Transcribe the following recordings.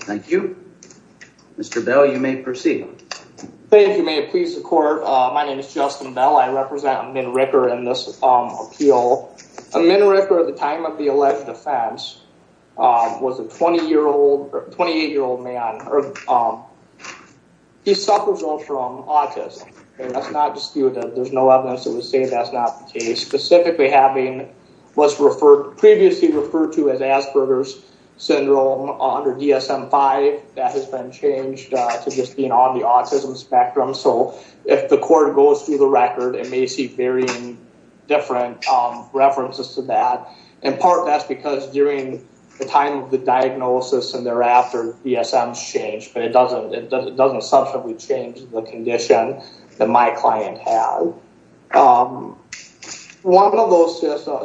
Thank you. Mr. Bell, you may proceed. Thank you. May it please the court. My name is Justin Bell. I represent Amin Ricker in this appeal. Amin Ricker at the time of the alleged offense was a 20-year-old, 28-year-old man. He suffers from autism. That's not disputed. There's no evidence to say that's not the case. Specifically having what's previously referred to as Asperger's syndrome under DSM-5, that has been changed to just being on the autism spectrum. So if the court goes through the record, it may see varying different references to that. In part, that's because during the time of the diagnosis and thereafter, DSM's changed, but it doesn't substantially change the condition that my client had. One of those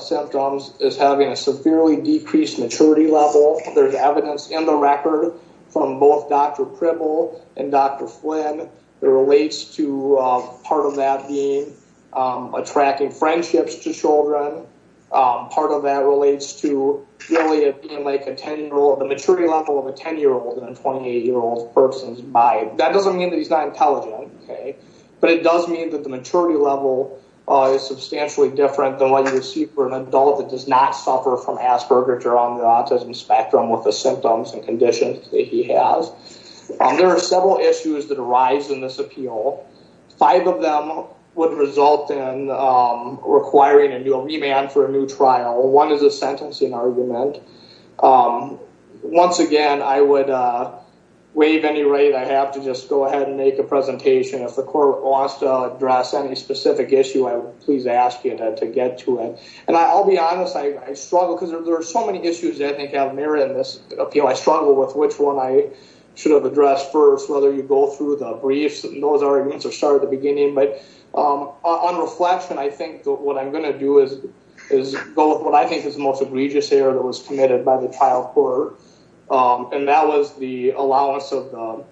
symptoms is having a severely decreased maturity level. There's evidence in the record from both Dr. Pribble and Dr. Flynn that relates to part of that being attracting friendships to children. Part of that relates to really it being like a 10-year-old, the maturity level of a 10-year-old and a 28-year-old person's mind. That doesn't mean that he's not intelligent, but it does mean that the maturity level is substantially different than what you would see for an adult that does not suffer from Asperger's or on the autism spectrum with the symptoms and conditions that he has. There are several issues that arise in this appeal. Five of them would result in requiring a new remand for a new trial. One is a sentencing argument. Once again, I would waive any right I have to just go ahead and make a presentation. If the court wants to address any specific issue, I would please ask you to get to it. I'll be honest, I struggle because there are so many issues that I think have merit in this appeal. I struggle with which one I should have addressed first, whether you go through the briefs and those arguments or start at the beginning. On reflection, I think what I'm going to do is go with what I think is most egregious error that was committed by the trial court. That was the allowance of the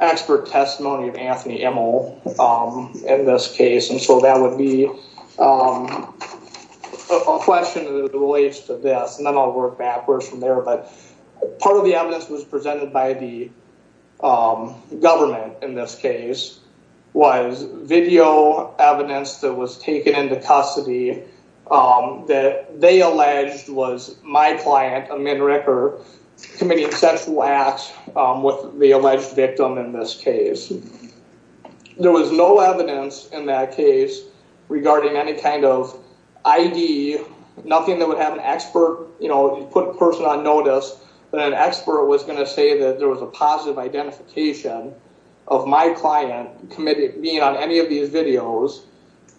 expert testimony of Anthony Emel in this case. That would be a question that relates to this. Then I'll work backwards from there. Part of the evidence was presented by the government in this case. The evidence presented by the government in this case was my client, Amin Ricker, committing sexual acts with the alleged victim in this case. There was no evidence in that case regarding any kind of I.D., nothing that would have an expert, you know, put a person on notice that an expert was going to say that there was a positive identification of my client committing on any of these videos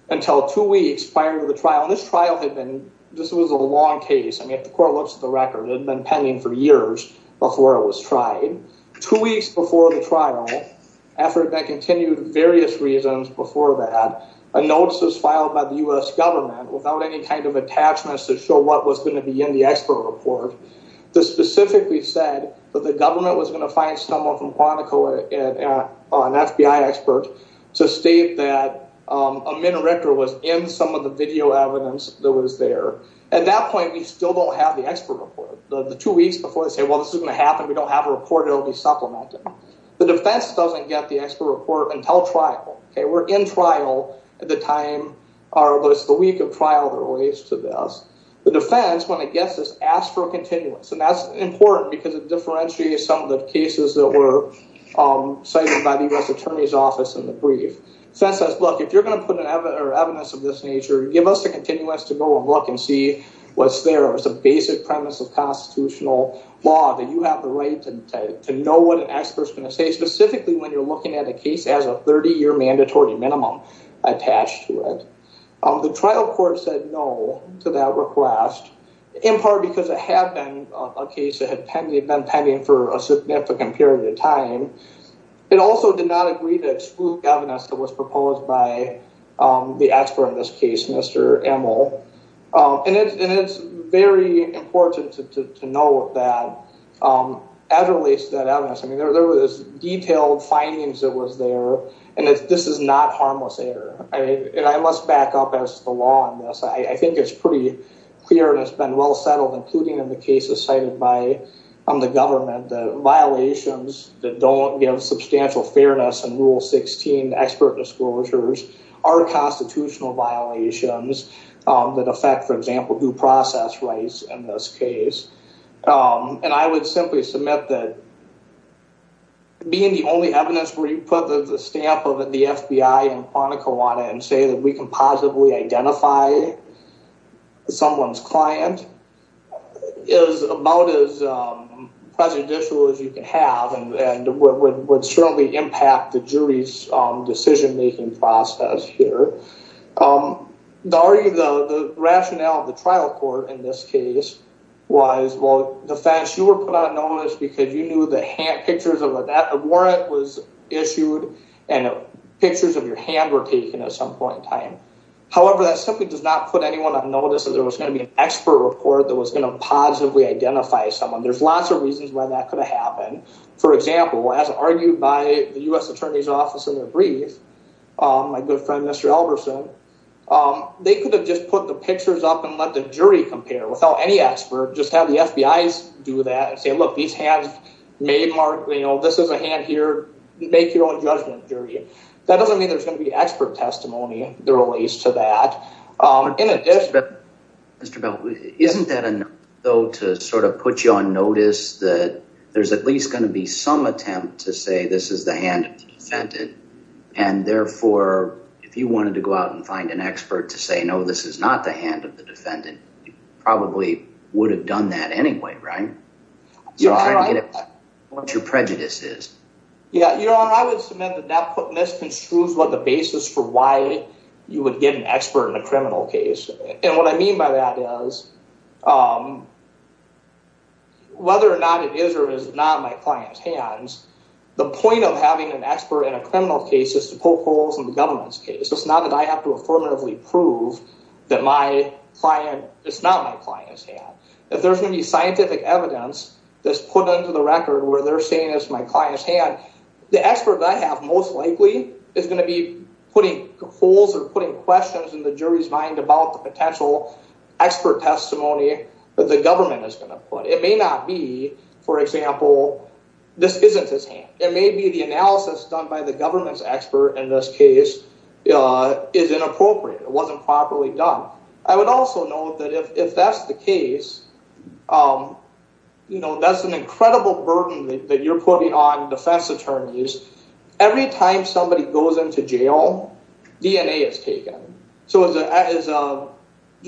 until two weeks prior to the trial. This trial had been, this was a long case. I mean, if the court looks at the record, it had been pending for years before it was tried. Two weeks before the trial, after that continued various reasons before that, a notice was filed by the U.S. government without any kind of attachments to show what was going to be in the expert report that specifically said that the government was going to find someone from Quantico, an FBI expert, to state that Amin Ricker was in some of the video evidence that was there. At that point, we still don't have the expert report. The two weeks before they say, well, this is going to happen, we don't have a report, it will be supplemented. The defense doesn't get the expert report until trial. We're in trial at the time, or at least the week of trial that relates to this. The defense, when it gets this, asks for a continuance, and that's important because it differentiates some of the cases that were cited by the U.S. attorney's office in the brief. The defense says, look, if you're going to put evidence of this nature, give us a continuance to go and look and see what's there. It's a basic premise of constitutional law, that you have the right to know what an expert is going to say, specifically when you're looking at a case that has a 30-year mandatory minimum attached to it. The trial court said no to that request, in part because it had been a case that had been pending for a significant period of time. It also did not agree to exclude evidence that was proposed by the expert in this case, Mr. Emel. It's very important to know that, as it relates to that evidence, there was detailed findings that was there, and this is not harmless error. I must back up as to the law on this. I think it's pretty clear and it's been well settled, including in the cases cited by the government, that violations that don't give substantial fairness in Rule 16 expert disclosures are constitutional violations that affect, for example, due process rights in this case. And I would simply submit that being the only evidence where you put the stamp of the FBI and Quantico on it and say that we can positively identify someone's client is about as judicial as you can have and would certainly impact the jury's decision-making process here. The rationale of the trial court in this case was, well, the facts you were put on notice because you knew the pictures of a warrant was issued and pictures of your hand were taken at some point in time. However, that simply does not put anyone on notice that there was going to be an expert report that was going to positively identify someone. There's lots of reasons why that could have happened. For example, as argued by the U.S. Attorney's Office in their brief, my good friend, Mr. Elberson, they could have just put the pictures up and let the jury compare without any expert, just have the FBI's do that and say, look, these hands may mark, you know, this is a hand here. Make your own judgment, jury. That doesn't mean there's going to be expert testimony that relates to that. In addition... Mr. Bell, isn't that enough, though, to sort of put you on notice that there's at least going to be some attempt to say this is the hand of the defendant? And therefore, if you wanted to go out and find an expert to say, no, this is not the hand of the defendant, you probably would have done that anyway, right? You're trying to get what your prejudice is. Yeah, Your Honor, I would submit that that misconstrues what the basis for you would get an expert in a criminal case. And what I mean by that is, whether or not it is or is not my client's hands, the point of having an expert in a criminal case is to poke holes in the government's case. It's not that I have to affirmatively prove that my client, it's not my client's hand. If there's any scientific evidence that's put into the record where they're saying it's my client's hand, the expert that I have most likely is going to be putting holes or putting questions in the jury's mind about the potential expert testimony that the government is going to put. It may not be, for example, this isn't his hand. It may be the analysis done by the government's expert in this case is inappropriate. It wasn't properly done. I would also note that if that's the case, that's an incredible burden that you're putting on defense attorneys. Every time somebody goes into jail, DNA is taken. So is a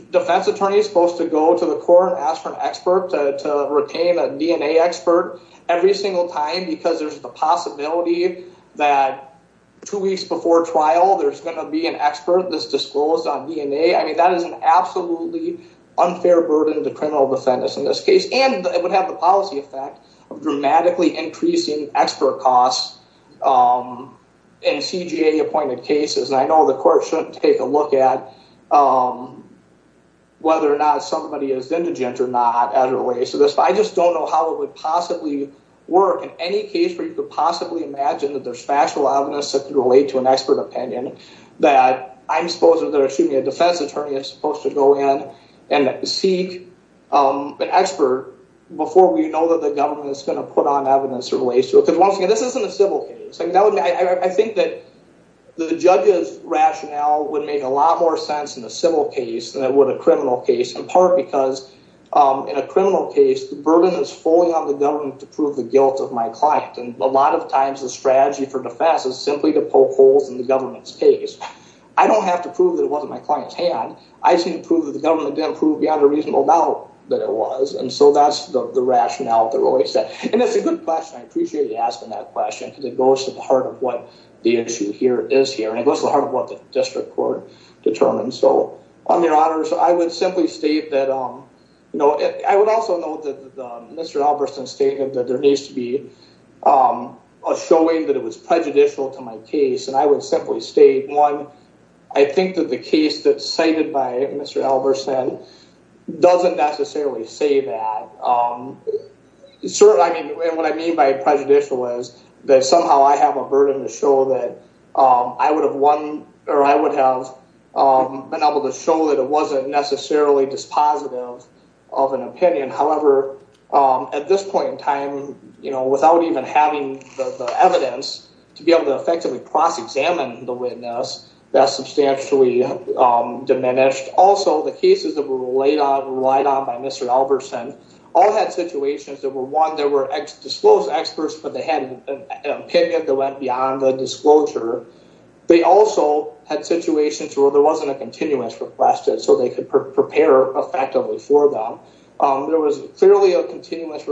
defense attorney supposed to go to the court and ask for an expert to retain a DNA expert every single time because there's the possibility that two weeks before trial, there's going to be an expert that's disclosed on DNA. I mean, that is an absolutely unfair burden to criminal defendants in this case, and it would have the policy effect of dramatically increasing expert costs in CJA-appointed cases. And I know the court shouldn't take a look at whether or not somebody is indigent or not as a relation to this, but I just don't know how it would possibly work in any case where you could possibly imagine that there's factual evidence that can relate to an expert opinion that I'm supposed to, they're assuming a defense attorney is supposed to go in and seek an expert before we know that the government is going to put on evidence or relates to it. Because once again, this isn't a civil case. I think that the judge's rationale would make a lot more sense in a civil case than it would a criminal case, in part because in a criminal case, the burden is fully on the government to prove the guilt of my client. And a lot of times the strategy for defense is simply to poke holes in the government's case. I don't have to prove that it wasn't my client's hand. I just need to prove that the government didn't prove beyond a reasonable doubt that it was. And so that's the rationale that Roy said. And that's a good question. I appreciate you asking that question, because it goes to the heart of what the issue here is here, and it goes to the heart of what the district court determined. So on your honors, I would simply state that, you know, I would also note that Mr. Albertson stated that there needs to be a showing that it was prejudicial to my case. And I would simply state, one, I think that the case that's cited by Mr. Albertson doesn't necessarily say that. I mean, what I mean by prejudicial is that somehow I have a burden to show that I would have won, or I would have been able to show that it wasn't necessarily dispositive of an opinion. However, at this point in time, you know, without even having the evidence to be able to effectively cross-examine the witness, that's substantially diminished. Also, the cases that were relied on by Mr. Albertson all had situations that were, one, there were disclosed experts, but they had an opinion that went beyond the disclosure. They also had situations where there wasn't a continuous request, so they could prepare effectively for them. There was clearly a possibility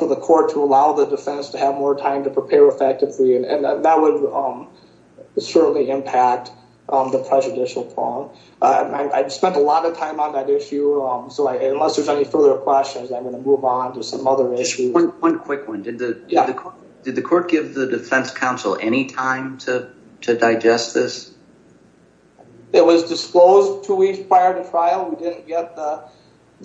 for the court to allow the defense to have more time to prepare effectively, and that would certainly impact the prejudicial point. I spent a lot of time on that issue, so unless there's any further questions, I'm going to move on to some other issues. One quick one. Did the court give the defense counsel any time to digest this? It was disclosed two weeks prior to trial. We didn't get the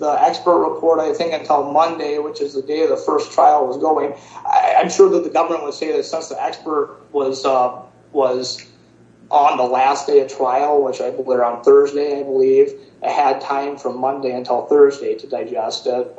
expert report, I think, until Monday, which is the day the first trial was going. I'm sure that the government would say that since the expert was on the last day of trial, which I believe on Thursday, I believe, it had time from Monday until Thursday to digest it,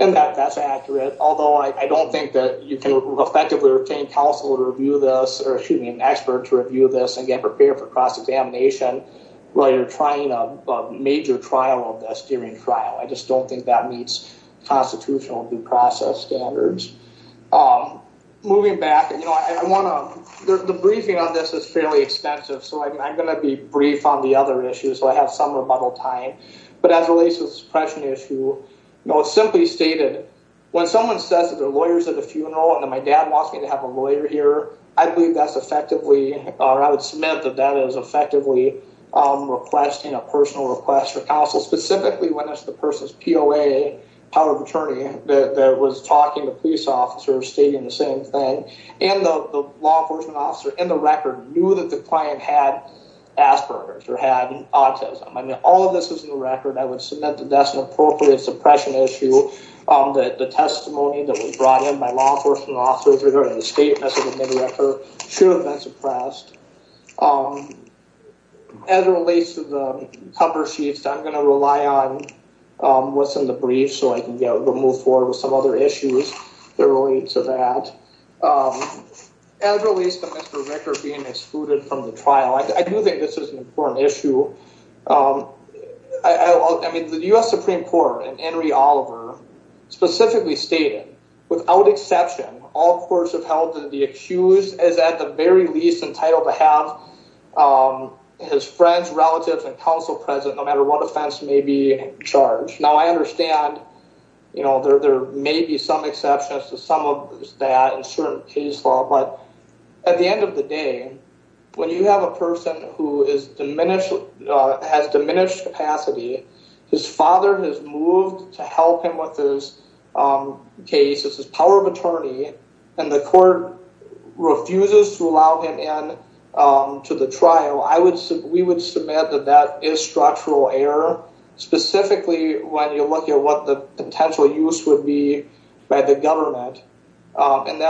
and that's accurate, although I don't think that you can effectively retain counsel to review this, or excuse me, an expert to review this and get prepared for cross-examination while you're trying a major trial of this during trial. I just don't think that meets constitutional due process standards. Moving back, the briefing on this is fairly extensive, so I'm going to be brief on the other issues, so I have some rebuttal time, but as it relates to the suppression issue, it's simply stated, when someone says that my dad wants me to have a lawyer here, I believe that's effectively, or I would submit that that is effectively requesting a personal request for counsel, specifically when it's the person's POA, power of attorney, that was talking to police officers stating the same thing, and the law enforcement officer in the record knew that the client had Asperger's or had autism. I mean, all of this is in the record. I would submit that that's an appropriate suppression issue, that the testimony that was brought in by law enforcement officers or the state message in the record should have been suppressed. As it relates to the cover sheets, I'm going to rely on what's in the brief, so I can move forward with some other issues that relate to that. As it relates to Mr. Ricker being excluded from the trial, I do think this is an important issue. I mean, the U.S. Supreme Court in Henry Oliver specifically stated, without exception, all courts have held that the accused is at the very least entitled to have his friends, relatives, and counsel present, no matter what offense may be in charge. Now, I understand, you know, there may be some exceptions to some of that in certain case law, but at the end of the day, when you have a person who has diminished capacity, his father has moved to help him with his case, it's his power of attorney, and the court refuses to allow him in to the trial, we would submit that that is structural error, specifically when you look at what the potential use would be by the government, and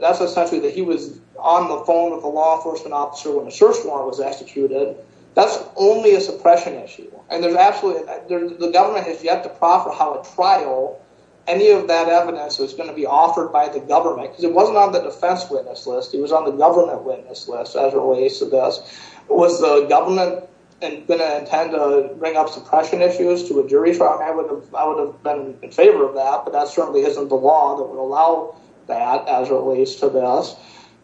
that's essentially that he was on the phone with a law enforcement officer when the search warrant was executed. That's only a suppression issue, and the government has yet to proffer how a trial, any of that evidence was going to be offered by the government, because it wasn't on the defense witness list, it was on the government witness list, as it relates to this. Was the government going to intend to bring up suppression issues to a jury trial? I would have been in favor of that, but that certainly isn't the law that would allow that, as it relates to this.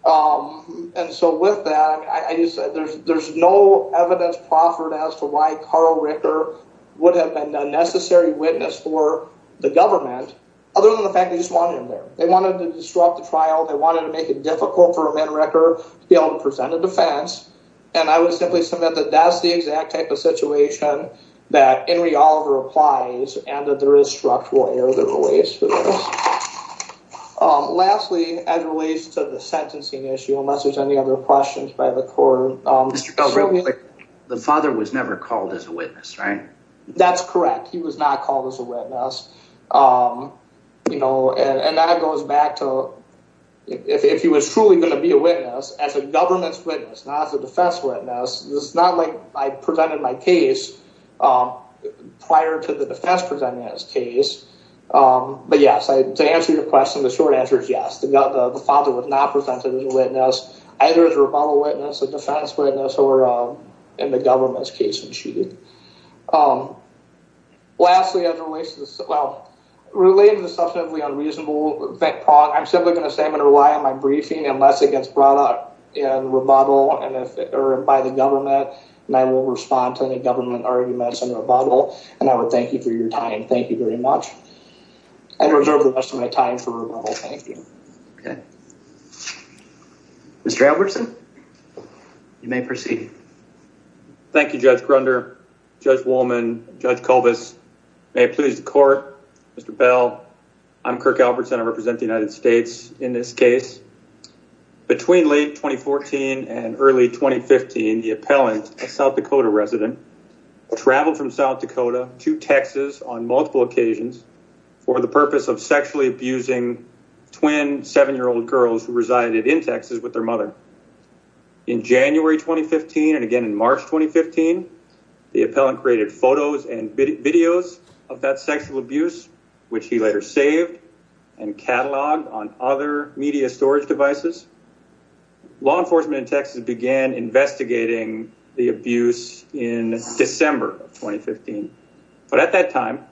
And so with that, there's no evidence proffered as to why Carl Ricker would have been a necessary witness for the government, other than the fact they just wanted him there. They wanted to disrupt the trial, they wanted to make it difficult for a man Ricker to be able to present a defense, and I would simply submit that that's the exact type of situation that Henry Oliver applies and that there is structural error that relates to this. Lastly, as it relates to the sentencing issue, unless there's any other questions by the court. The father was never called as a witness, right? That's correct, he was not called as a witness. And that goes back to, if he was truly going to be a witness, as a government's witness, not as a defense witness, it's not like I presented my case prior to the defense presenting his case. But yes, to answer your question, the short answer is yes, the father was not presented as a witness, either as a rebuttal witness, a defense witness, or in the government's case of cheating. Lastly, as it relates to the, well, related to the substantively unreasonable, I'm simply going to say I'm going to rely on my rebuttal by the government, and I will respond to any government arguments and rebuttal, and I would thank you for your time. Thank you very much. I reserve the rest of my time for rebuttal. Thank you. Okay. Mr. Albertson, you may proceed. Thank you, Judge Grunder, Judge Wolman, Judge Kovas. May it please the court, Mr. Bell, I'm Kirk Albertson. I represent the United States in this case. Between late 2014 and early 2015, the appellant, a South Dakota resident, traveled from South Dakota to Texas on multiple occasions for the purpose of sexually abusing twin seven-year-old girls who resided in Texas with their mother. In January 2015, and again in March 2015, the appellant created photos and videos of that sexual abuse, which he later saved and cataloged on other media storage devices. Law enforcement in Texas began investigating the abuse in December of 2015, but at that time,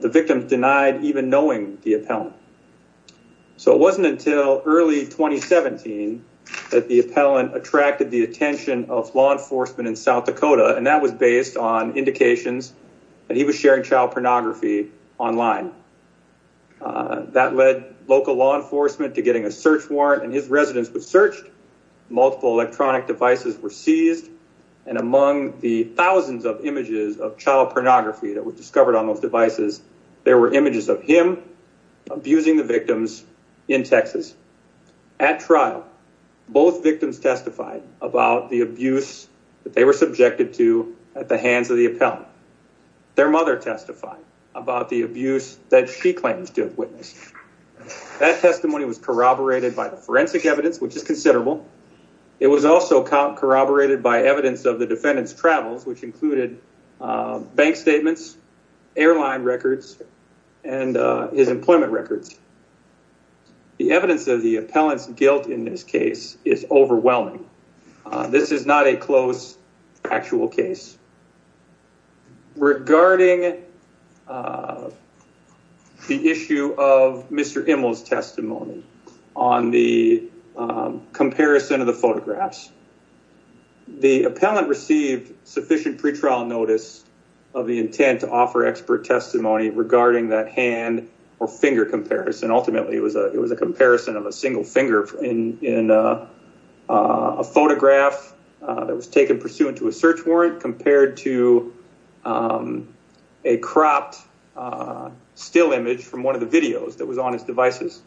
the victim denied even knowing the appellant. So it wasn't until early 2017 that the appellant attracted the attention of law enforcement in South Dakota, and that was based on indications that he was sharing child pornography online. That led local law enforcement to getting a search warrant, and his residence was searched. Multiple electronic devices were seized, and among the thousands of images of child pornography that were discovered on those devices, there were images of him abusing the victims in Texas. At trial, both victims testified about the abuse that they were subjected to at the hands of the appellant. Their mother testified about the abuse that she claims to have witnessed. That testimony was corroborated by the forensic evidence, which is considerable. It was also corroborated by evidence of the defendant's travels, which included bank statements, airline records, and his employment records. The evidence of the appellant's guilt in this case is overwhelming. This is not a close actual case. Regarding the issue of Mr. Immel's testimony on the comparison of the photographs, the appellant received sufficient pretrial notice of the intent to offer expert testimony regarding that hand or finger comparison. Ultimately, it was a comparison of a single finger in a photograph that was taken pursuant to a search warrant compared to a cropped still image from one of the videos that was on his devices.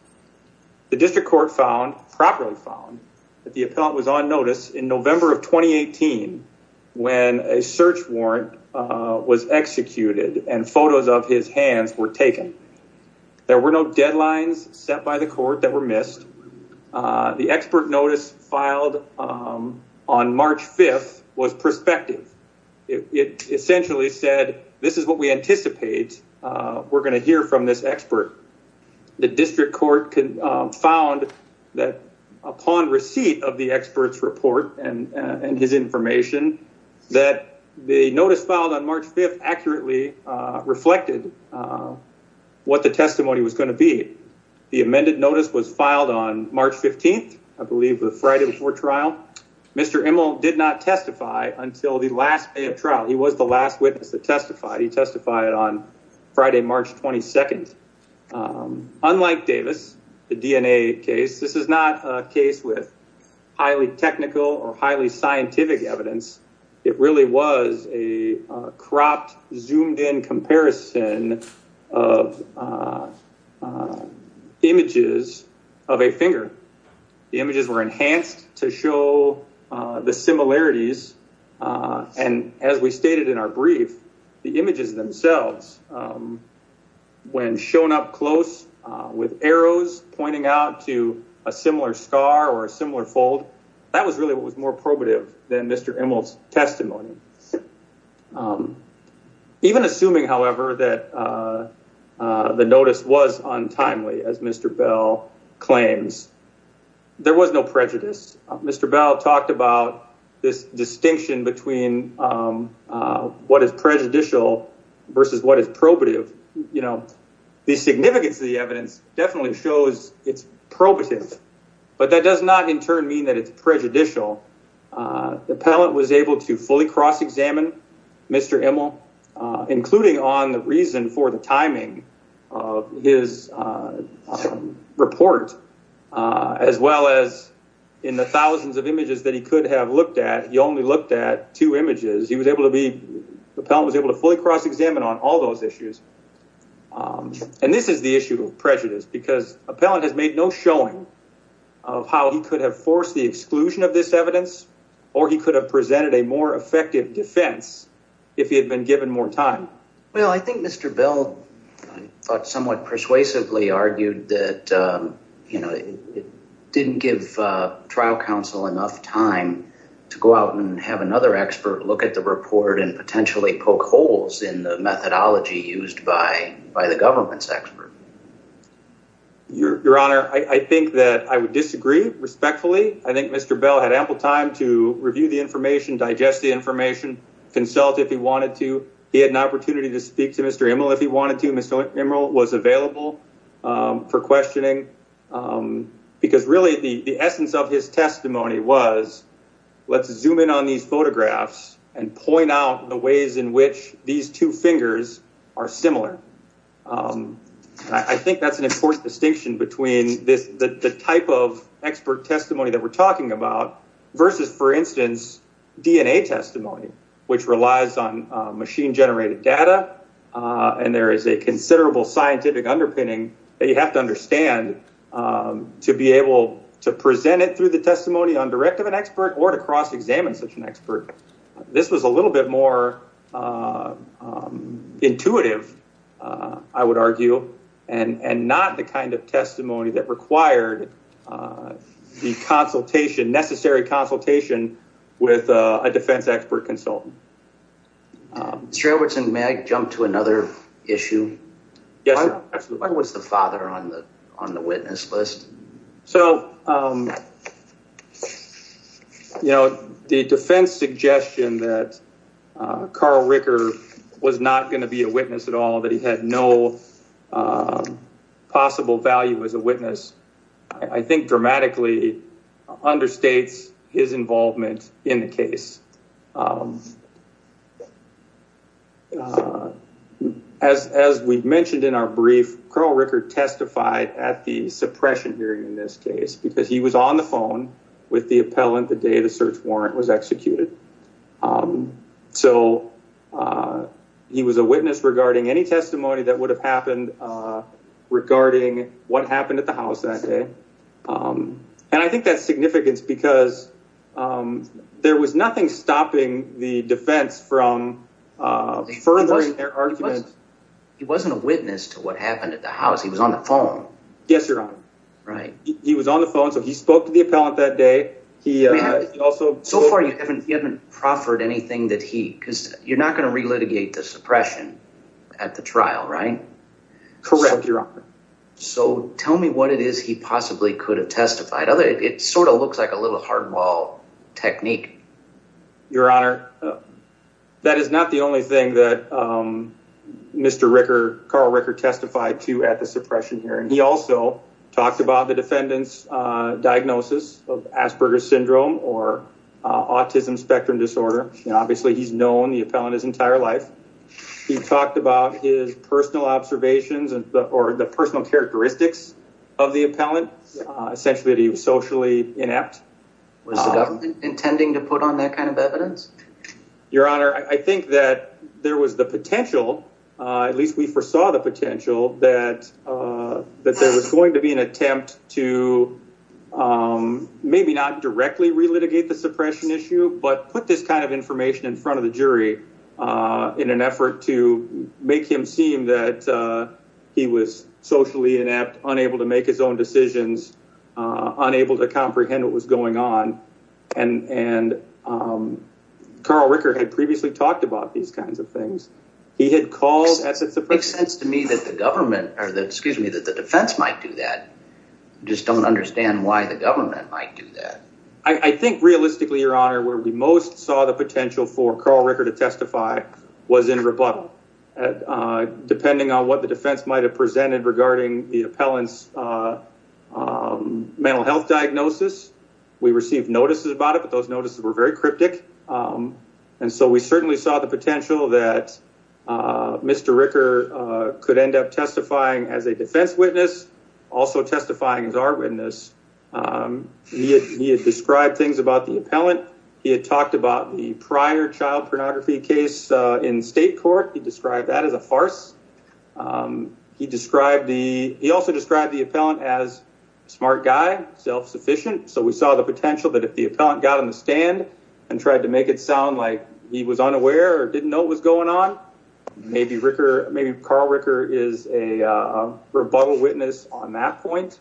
The district court found, properly found, that the appellant was on notice in November of 2018 when a search warrant was executed and photos of his hands were taken. There were no deadlines set by the court that were missed. The expert notice filed on March 5th was prospective. It essentially said, this is what we anticipate. We're going to hear from this expert. The district court found that upon receipt of the expert's report and his information, that the notice filed on March 5th accurately reflected what the testimony was going to be. The amended notice was filed on March 15th, I believe the Friday before trial. Mr. Immel did not testify until the last day of trial. He was the last witness that testified. He testified on unlike Davis, the DNA case, this is not a case with highly technical or highly scientific evidence. It really was a cropped, zoomed in comparison of images of a finger. The images were enhanced to show the similarities. And as we stated in our brief, the images themselves, um, when shown up close, uh, with arrows pointing out to a similar scar or a similar fold, that was really what was more probative than Mr. Immel's testimony. Even assuming, however, that, uh, uh, the notice was untimely as Mr. Bell claims, there was no prejudice. Mr. Bell talked about this distinction between, um, uh, what is prejudicial versus what is probative. You know, the significance of the evidence definitely shows it's probative, but that does not in turn mean that it's prejudicial. Uh, the appellant was able to fully cross-examine Mr. Immel, uh, including on the reason for the timing of his, uh, report, uh, as well as in the thousands of images that he could have looked at, he only looked at two images. He was able to be, the appellant was able to fully cross-examine on all those issues. Um, and this is the issue of prejudice because appellant has made no showing of how he could have forced the exclusion of this evidence, or he could have presented a more effective defense if he had been given more time. Well, I think Mr. Bell thought somewhat persuasively argued that, um, you know, it didn't give a trial counsel enough time to go out and have another expert look at the report and potentially poke holes in the methodology used by, by the government's expert. Your Honor, I think that I would disagree respectfully. I think Mr. Bell had ample time to review the information, digest the information, consult if he wanted to. He had an opportunity to speak to Mr. Immel if he wanted to. Mr. Immel was available, um, for questioning, um, because really the, the essence of his testimony was let's zoom in on these photographs and point out the ways in which these two fingers are similar. Um, I think that's an important distinction between this, the type of expert testimony that we're talking about versus for instance, DNA testimony, which relies on, uh, machine generated data. Uh, and there is a considerable scientific underpinning that you have to understand, um, to be able to present it through the testimony on direct of an expert or to cross examine such an expert. This was a little bit more, uh, um, intuitive, uh, I would argue, and, and not the kind of testimony that required, uh, the consultation necessary consultation with, uh, a defense expert consultant. Um, Mr. Edwardson, may I jump to another issue? Yes, absolutely. Why was the father on the, on the witness list? So, um, you know, the defense suggestion that, uh, Carl Ricker was not going to be a witness at all, that he had no, um, possible value as a witness, I think dramatically understates his involvement in the case. Um, uh, as, as we've mentioned in our brief, Carl Ricker testified at the suppression hearing in this case, because he was on the phone with the appellant the day the search warrant was executed. Um, so, uh, he was a witness regarding any testimony that would have happened, uh, regarding what happened at the house that day. Um, and I think that's significance because, um, there was nothing stopping the defense from, uh, furthering their argument. He wasn't a witness to what happened at the house. He was on the phone. Yes, your honor. Right. He was on the phone. So he spoke to the appellant that day. He, uh, he also, so far you haven't, you haven't proffered anything that he, cause you're not going to re-litigate the suppression at the trial, right? Correct, your honor. So tell me what it is he possibly could have testified. Other, it sort of looks like a little hardball technique. Your honor. That is not the only thing that, um, Mr. Ricker, Carl Ricker testified to at the suppression hearing. He also talked about the defendant's, uh, diagnosis of Asperger's syndrome or, uh, autism spectrum disorder. And obviously he's known the appellant his entire life. He talked about his personal observations or the personal characteristics of the appellant, uh, essentially that he was socially inept. Was the government intending to put on that kind of evidence? Your honor. I think that there was the potential, uh, at least we foresaw the potential that, uh, that there was going to be an attempt to, um, maybe not directly re-litigate the suppression issue, but put this kind of information in front of the jury, uh, in an effort to make him seem that, uh, he was socially inept, unable to make his own decisions, uh, unable to comprehend what was going on. And, and, um, Carl Ricker had previously talked about these kinds of things. He had called. It makes sense to me that the government or the, excuse me, that the defense might do that. Just don't understand why the government might do that. I think realistically, your honor, where we most saw the potential for Carl Ricker to testify was in rebuttal, uh, depending on what the defense might've presented regarding the appellant's, uh, um, mental health diagnosis. We received notices about it, but those notices were very cryptic. Um, and so we certainly saw the potential that, uh, Mr. Ricker, uh, could end up testifying as a defense witness, also testifying as our witness. Um, he had, he had described things about the appellant. He had talked about the prior child pornography case, uh, in state court. He described that as a farce. Um, he described the, he also described the appellant as smart guy, self-sufficient. So we saw the potential that if the appellant got on the stand and tried to make it sound like he was unaware or didn't know what was going on, maybe Ricker, maybe Carl Ricker is a, uh, rebuttal witness on that point.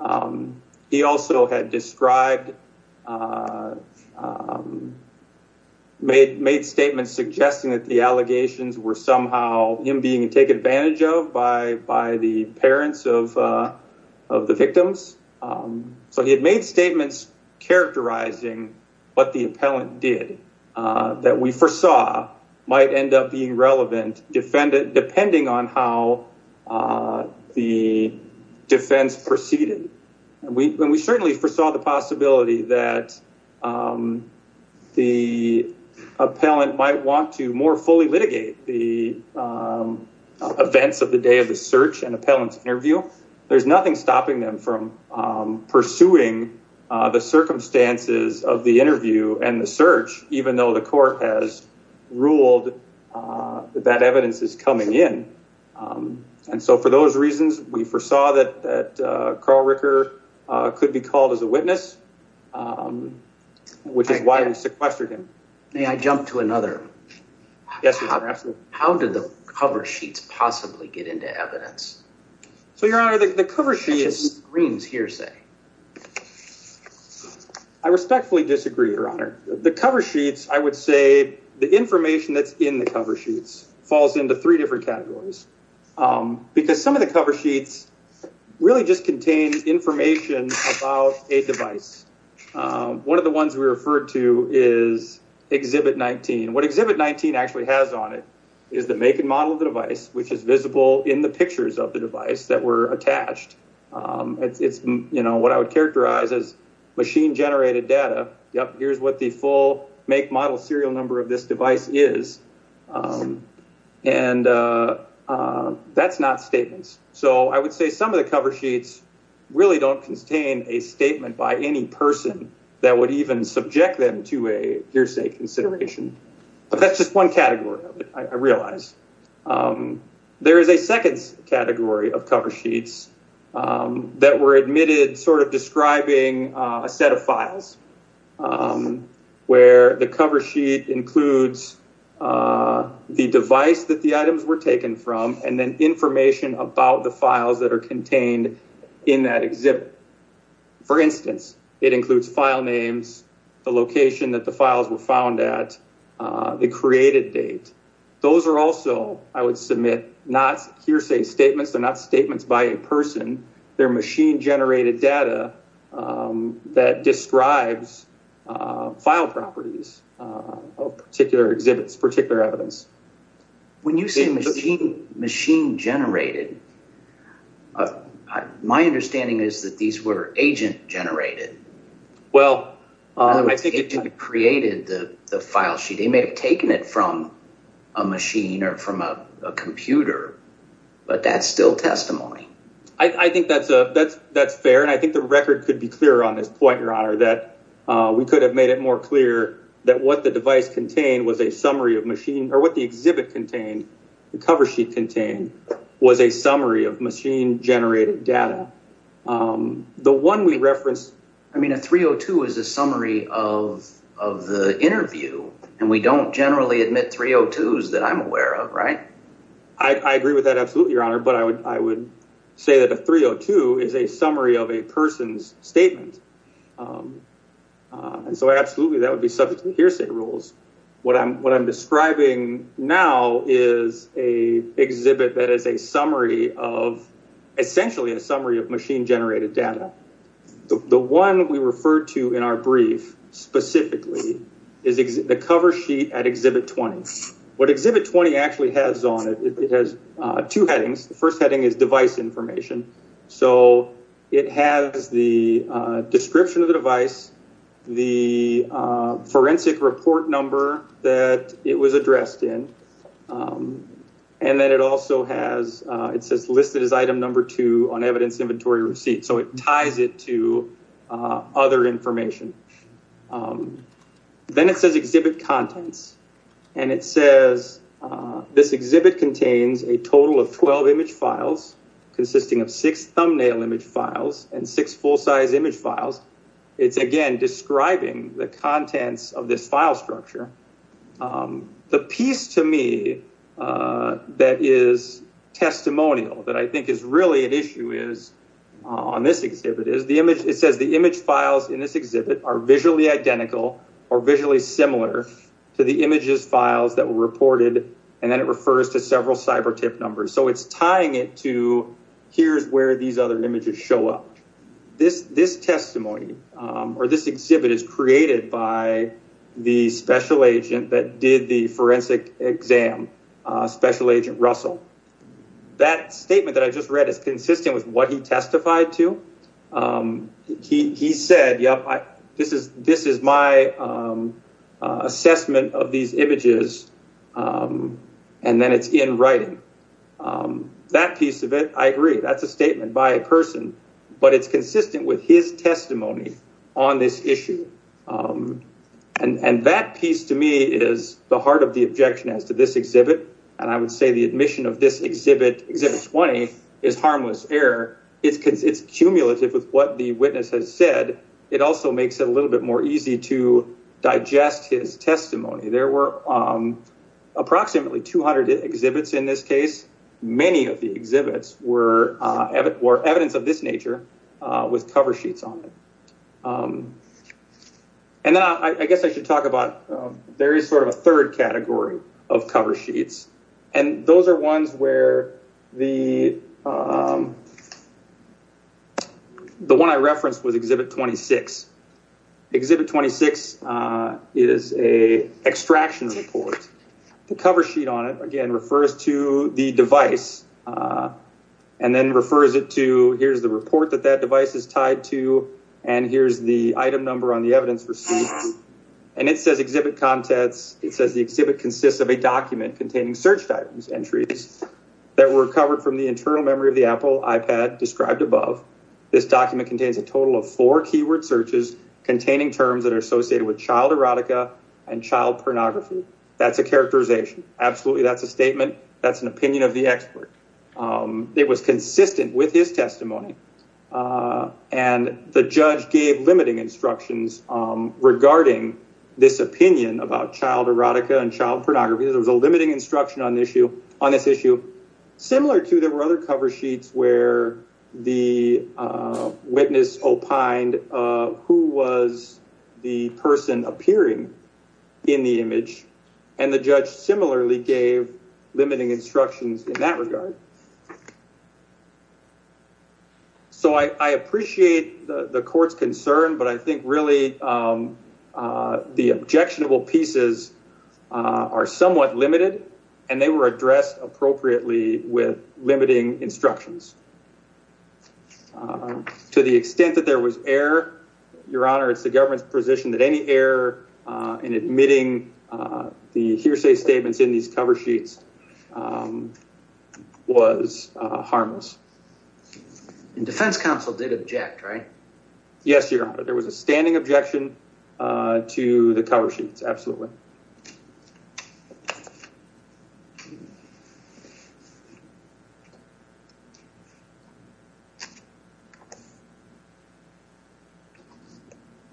Um, he also had described, uh, um, made, made statements suggesting that the allegations were somehow him being taken advantage of by, by the parents of, uh, of the victims. Um, so he had made statements characterizing what the appellant did, uh, that we foresaw might end up being relevant depending on how, uh, the defense proceeded. And we, and we certainly foresaw the possibility that, um, the appellant might want to more fully litigate the, um, events of the day of the search and appellant's interview. There's nothing stopping them from, um, pursuing, uh, the circumstances of the interview and the search, even though the court has ruled, uh, that evidence is coming in. Um, and so for those reasons, we foresaw that, that, uh, Carl Ricker, uh, could be called as a witness, um, which is why we sequestered him. May I jump to another? Yes. How did the cover sheets possibly get into evidence? So your honor, the, the cover sheet, I respectfully disagree, your honor, the cover sheets, I would say the information that's in the cover sheets falls into three different categories. Um, because some of the cover sheets really just contain information about a device. Um, one of the ones we referred to is exhibit 19. What exhibit 19 actually has on it is the make and model of the device, which is visible in the pictures of the device that were attached. Um, it's, it's, you know, what I would characterize as machine generated data. Yep. Here's what the full make model serial number of this device is. Um, and, uh, uh, that's not statements. So I would say some of the cover sheets really don't contain a statement by any person that would even subject them to a hearsay consideration, but that's just one category. I realize, um, there is a second category of cover sheets, um, that were admitted sort of describing, uh, a set of files, um, where the cover sheet includes, uh, the device that the items were taken from, and then information about the files that are contained in that exhibit. For instance, it includes file names, the location that the files were found at, uh, the created date. Those are also, I would submit not hearsay statements. They're not statements by a person, they're machine generated data, um, that describes, uh, file properties, uh, of particular exhibits, particular evidence. When you say machine, machine generated, my understanding is that these were agent generated. Well, I think it created the, the file sheet. They may have taken it from a machine or from a computer, but that's still testimony. I think that's a, that's, that's fair. And I think the record could be clear on this point, your honor, that, uh, we could have made it more clear that what the device contained was a summary of machine or what the exhibit contained, the cover sheet contained was a summary of machine generated data. Um, the one we referenced, I mean, a 302 is a summary of, of the interview and we don't generally admit 302s that I'm aware of. Right. I agree with that. Absolutely. Your say that a 302 is a summary of a person's statement. Um, uh, and so absolutely that would be subject to hearsay rules. What I'm, what I'm describing now is a exhibit that is a summary of essentially a summary of machine generated data. The one we referred to in our brief specifically is the cover sheet at exhibit 20. What exhibit 20 actually has on it, it has, uh, two headings. The first heading is device information. So it has the, uh, description of the device, the, uh, forensic report number that it was addressed in. Um, and then it also has, uh, it says listed as item number two on evidence inventory receipt. So it ties it to, uh, other information. Um, then it says exhibit contents and it says, uh, this exhibit contains a total of 12 image files consisting of six thumbnail image files and six full size image files. It's again, describing the contents of this file structure. Um, the piece to me, uh, that is testimonial that I think is really an issue is on this exhibit is the image. It says the image files in this exhibit are visually identical or visually similar to the images files that were reported. And then it refers to several cyber tip numbers. So it's tying it to, here's where these other images show up. This, this testimony, um, or this exhibit is created by the special agent that did the forensic exam, uh, special agent Russell. That statement that I just read is consistent with what he testified to. Um, he, he said, this is, this is my, um, uh, assessment of these images. Um, and then it's in writing, um, that piece of it. I agree. That's a statement by a person, but it's consistent with his testimony on this issue. Um, and, and that piece to me is the heart of the objection as to this exhibit. And I would say the admission of this exhibit exhibits 20 is harmless error. It's because it's cumulative with what the witness has said. It also makes it a little bit more easy to digest his testimony. There were, um, approximately 200 exhibits in this case. Many of the exhibits were, uh, or evidence of this nature, uh, with cover sheets on it. Um, and then I, I guess I should talk about, um, there is sort of a third category of cover sheets. And those are ones where the, um, the one I referenced was exhibit 26 exhibit 26, uh, is a extraction report. The cover sheet on it again refers to the device, uh, and then refers it to here's the report that that device is tied to. And here's the item number on the evidence receipt. And it says contents. It says the exhibit consists of a document containing search items entries that were covered from the internal memory of the Apple iPad described above this document contains a total of four keyword searches containing terms that are associated with child erotica and child pornography. That's a characterization. Absolutely. That's a statement. That's an opinion of the expert. Um, it was consistent with his testimony. Uh, and the judge gave limiting instructions, um, regarding this opinion about child erotica and child pornography. There was a limiting instruction on the issue on this issue, similar to there were other cover sheets where the, uh, witness opined, uh, who was the person appearing in the image and the judge similarly gave limiting instructions in that regard. So I, I appreciate the, the court's concern, but I think really, um, uh, the objectionable pieces, uh, are somewhat limited and they were addressed appropriately with limiting instructions. Uh, to the extent that there was air, your honor, it's the government's position that any air, uh, in admitting, uh, the hearsay statements in these cover sheets, um, was, uh, harmless. And defense counsel did object, right? Yes, your honor, there was a standing objection, uh, to the cover sheets. Absolutely.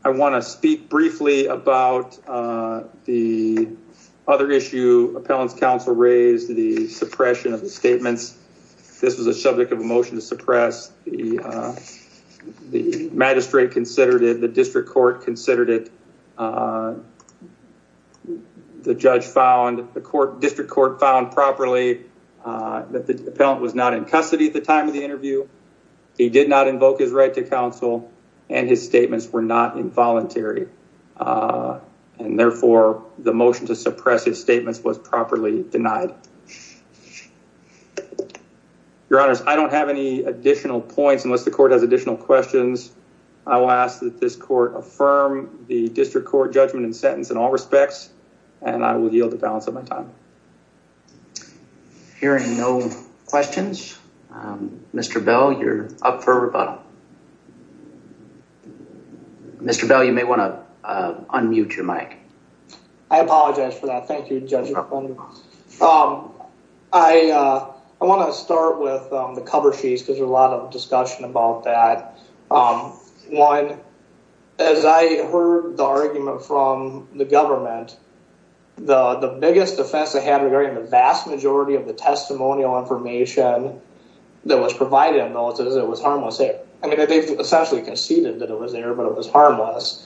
I want to speak briefly about, uh, the other issue appellant's counsel raised the suppression of the statements. This was a subject of a motion to suppress the, uh, the magistrate considered it, the district court considered it. Uh, the judge found the court district court found properly, uh, that the appellant was not in custody at the time of the interview. He did not invoke his right to counsel and his statements were not involuntary. Uh, and therefore the motion to suppress his statements was properly denied. Your honors, I don't have any additional points unless the court has additional questions. I will ask that this court affirm the district court judgment and sentence in all respects, and I will yield the balance of my time. Hearing no questions, um, Mr. Bell, you're up for rebuttal. Mr. Bell, you may want to, uh, unmute your mic. I apologize for that. Thank you. Um, I, uh, I want to start with, um, the cover sheets because there's a lot of discussion about that. Um, one, as I heard the argument from the government, the, the biggest defense they had regarding the vast majority of the testimonial information that was provided in militias, it was harmless. I mean, they essentially conceded that it was there, but it was harmless.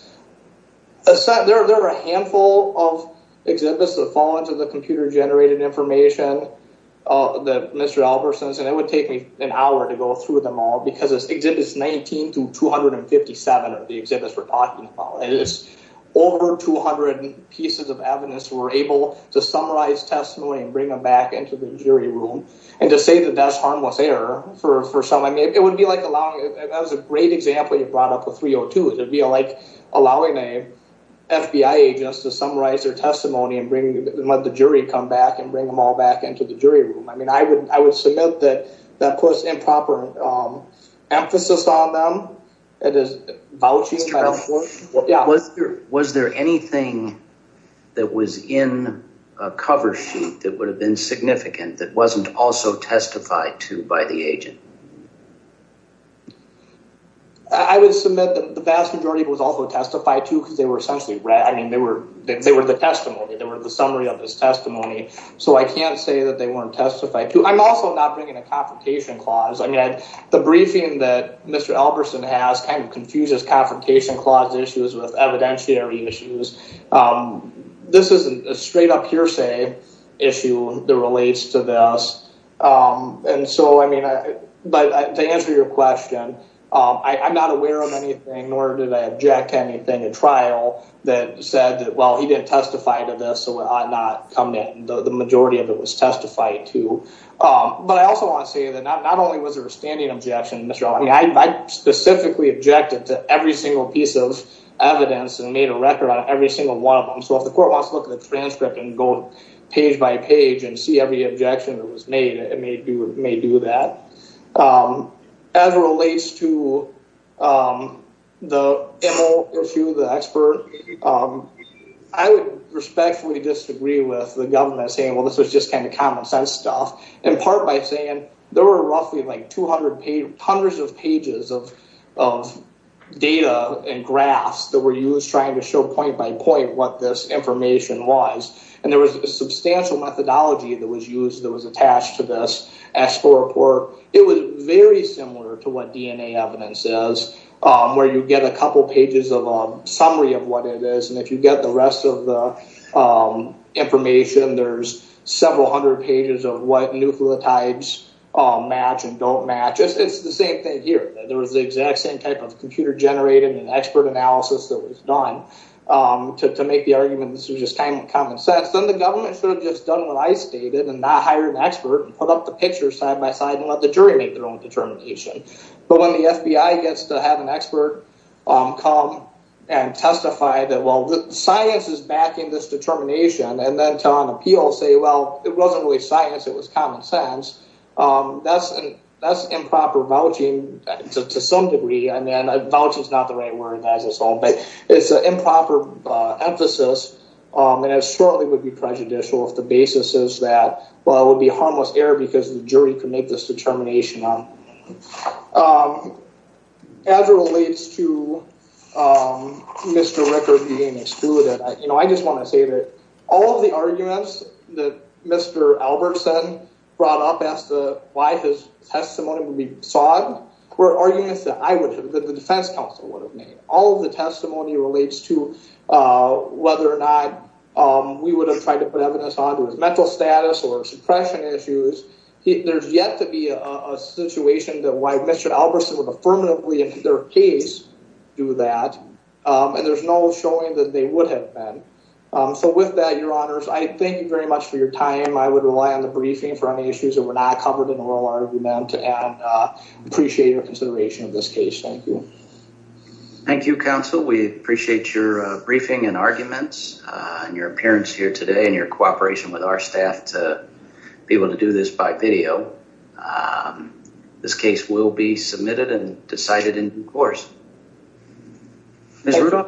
There were a handful of exhibits that fall into the computer generated information, uh, that Mr. Albertson's and it would take me an hour to go through them all because it's 19 to 257 of the exhibits we're talking about. And it's over 200 pieces of evidence were able to summarize testimony and bring them back into the jury room. And to say that that's harmless error for, for some, I mean, it would be like allowing, that was a great example you brought up with 302. It'd be like allowing a FBI agent to summarize their testimony and bring, let the jury come back and bring them all back into the jury room. I mean, I would, I would submit that of course, improper, um, emphasis on them. It is vouching. Yeah. Was there, was there anything that was in a cover sheet that would have been significant that wasn't also testified to by the agent? I would submit that the vast majority was also testified to cause they were essentially rad. I mean, they were, they were the testimony. They were the summary of this testimony. So I can't say that they weren't testified to. I'm also not bringing a confrontation clause. I mean, the briefing that Mr. Albertson has kind of confuses confrontation clause issues with evidentiary issues. Um, this isn't a straight up hearsay issue that relates to this. Um, and so, I mean, but to answer your question, um, I, I'm not aware of anything nor did I object to anything in trial that said that, well, he didn't testify to this. So I'm not coming in the majority of it was testified to. Um, but I also want to say that not, not only was there a standing objection, Mr. Albertson, I specifically objected to every single piece of evidence and made a record on every single one of them. So if the court wants to look at the transcript and go page by page and see every objection that was made, it may do, may do that. Um, as it relates to, um, the MO issue, the expert, um, I would respectfully disagree with the government saying, well, this was just kind of common sense stuff in part by saying there were roughly like 200 pages, hundreds of pages of, of data and graphs that were used trying to show point by point what this information was. And there was a substantial methodology that was used that was attached to this S4 report. It was very similar to what DNA evidence is, um, where you get a couple pages of a summary of what it is. And if you get the rest of the, um, information, there's several hundred pages of what nucleotides, um, match and don't match. It's the same thing here. There was the exact same type of computer generated and expert analysis that was done, um, to, to make the argument, this was just kind of common sense. Then the government should have just done what I stated and not hire an expert and put up the picture side by side and let the jury make their own determination. But when the FBI gets to have an expert, um, come and testify that, well, the science is backing this determination and then to on appeal say, well, it wasn't really science. It was common sense. Um, that's an, that's improper vouching to some degree. And then vouching is not the right word as it's all, but it's an improper, uh, emphasis. Um, and it certainly would be prejudicial if the basis is that, well, it would be harmless error because the jury can make this determination on, um, as it relates to, um, Mr. Rickard being excluded. You know, I just want to say that all of the arguments that Mr. Albertson brought up as to why his testimony would be sod were arguments that I would have, that the defense counsel would have made. All of the testimony relates to, uh, whether or not, um, we would have tried to put evidence onto his mental status or suppression issues. He, there's yet to be a situation that why Mr. Albertson would affirmatively in their case do that. Um, and there's no showing that they would have been. Um, so with that, your honors, I thank you very much for your time. I would rely on the briefing for any issues that were not covered in the oral argument and, uh, appreciate your consideration of this case. Thank you. Thank you, counsel. We appreciate your briefing and arguments and your appearance here today and your cooperation with our staff to be able to do this by video. Um, this case will be submitted and decided in due course.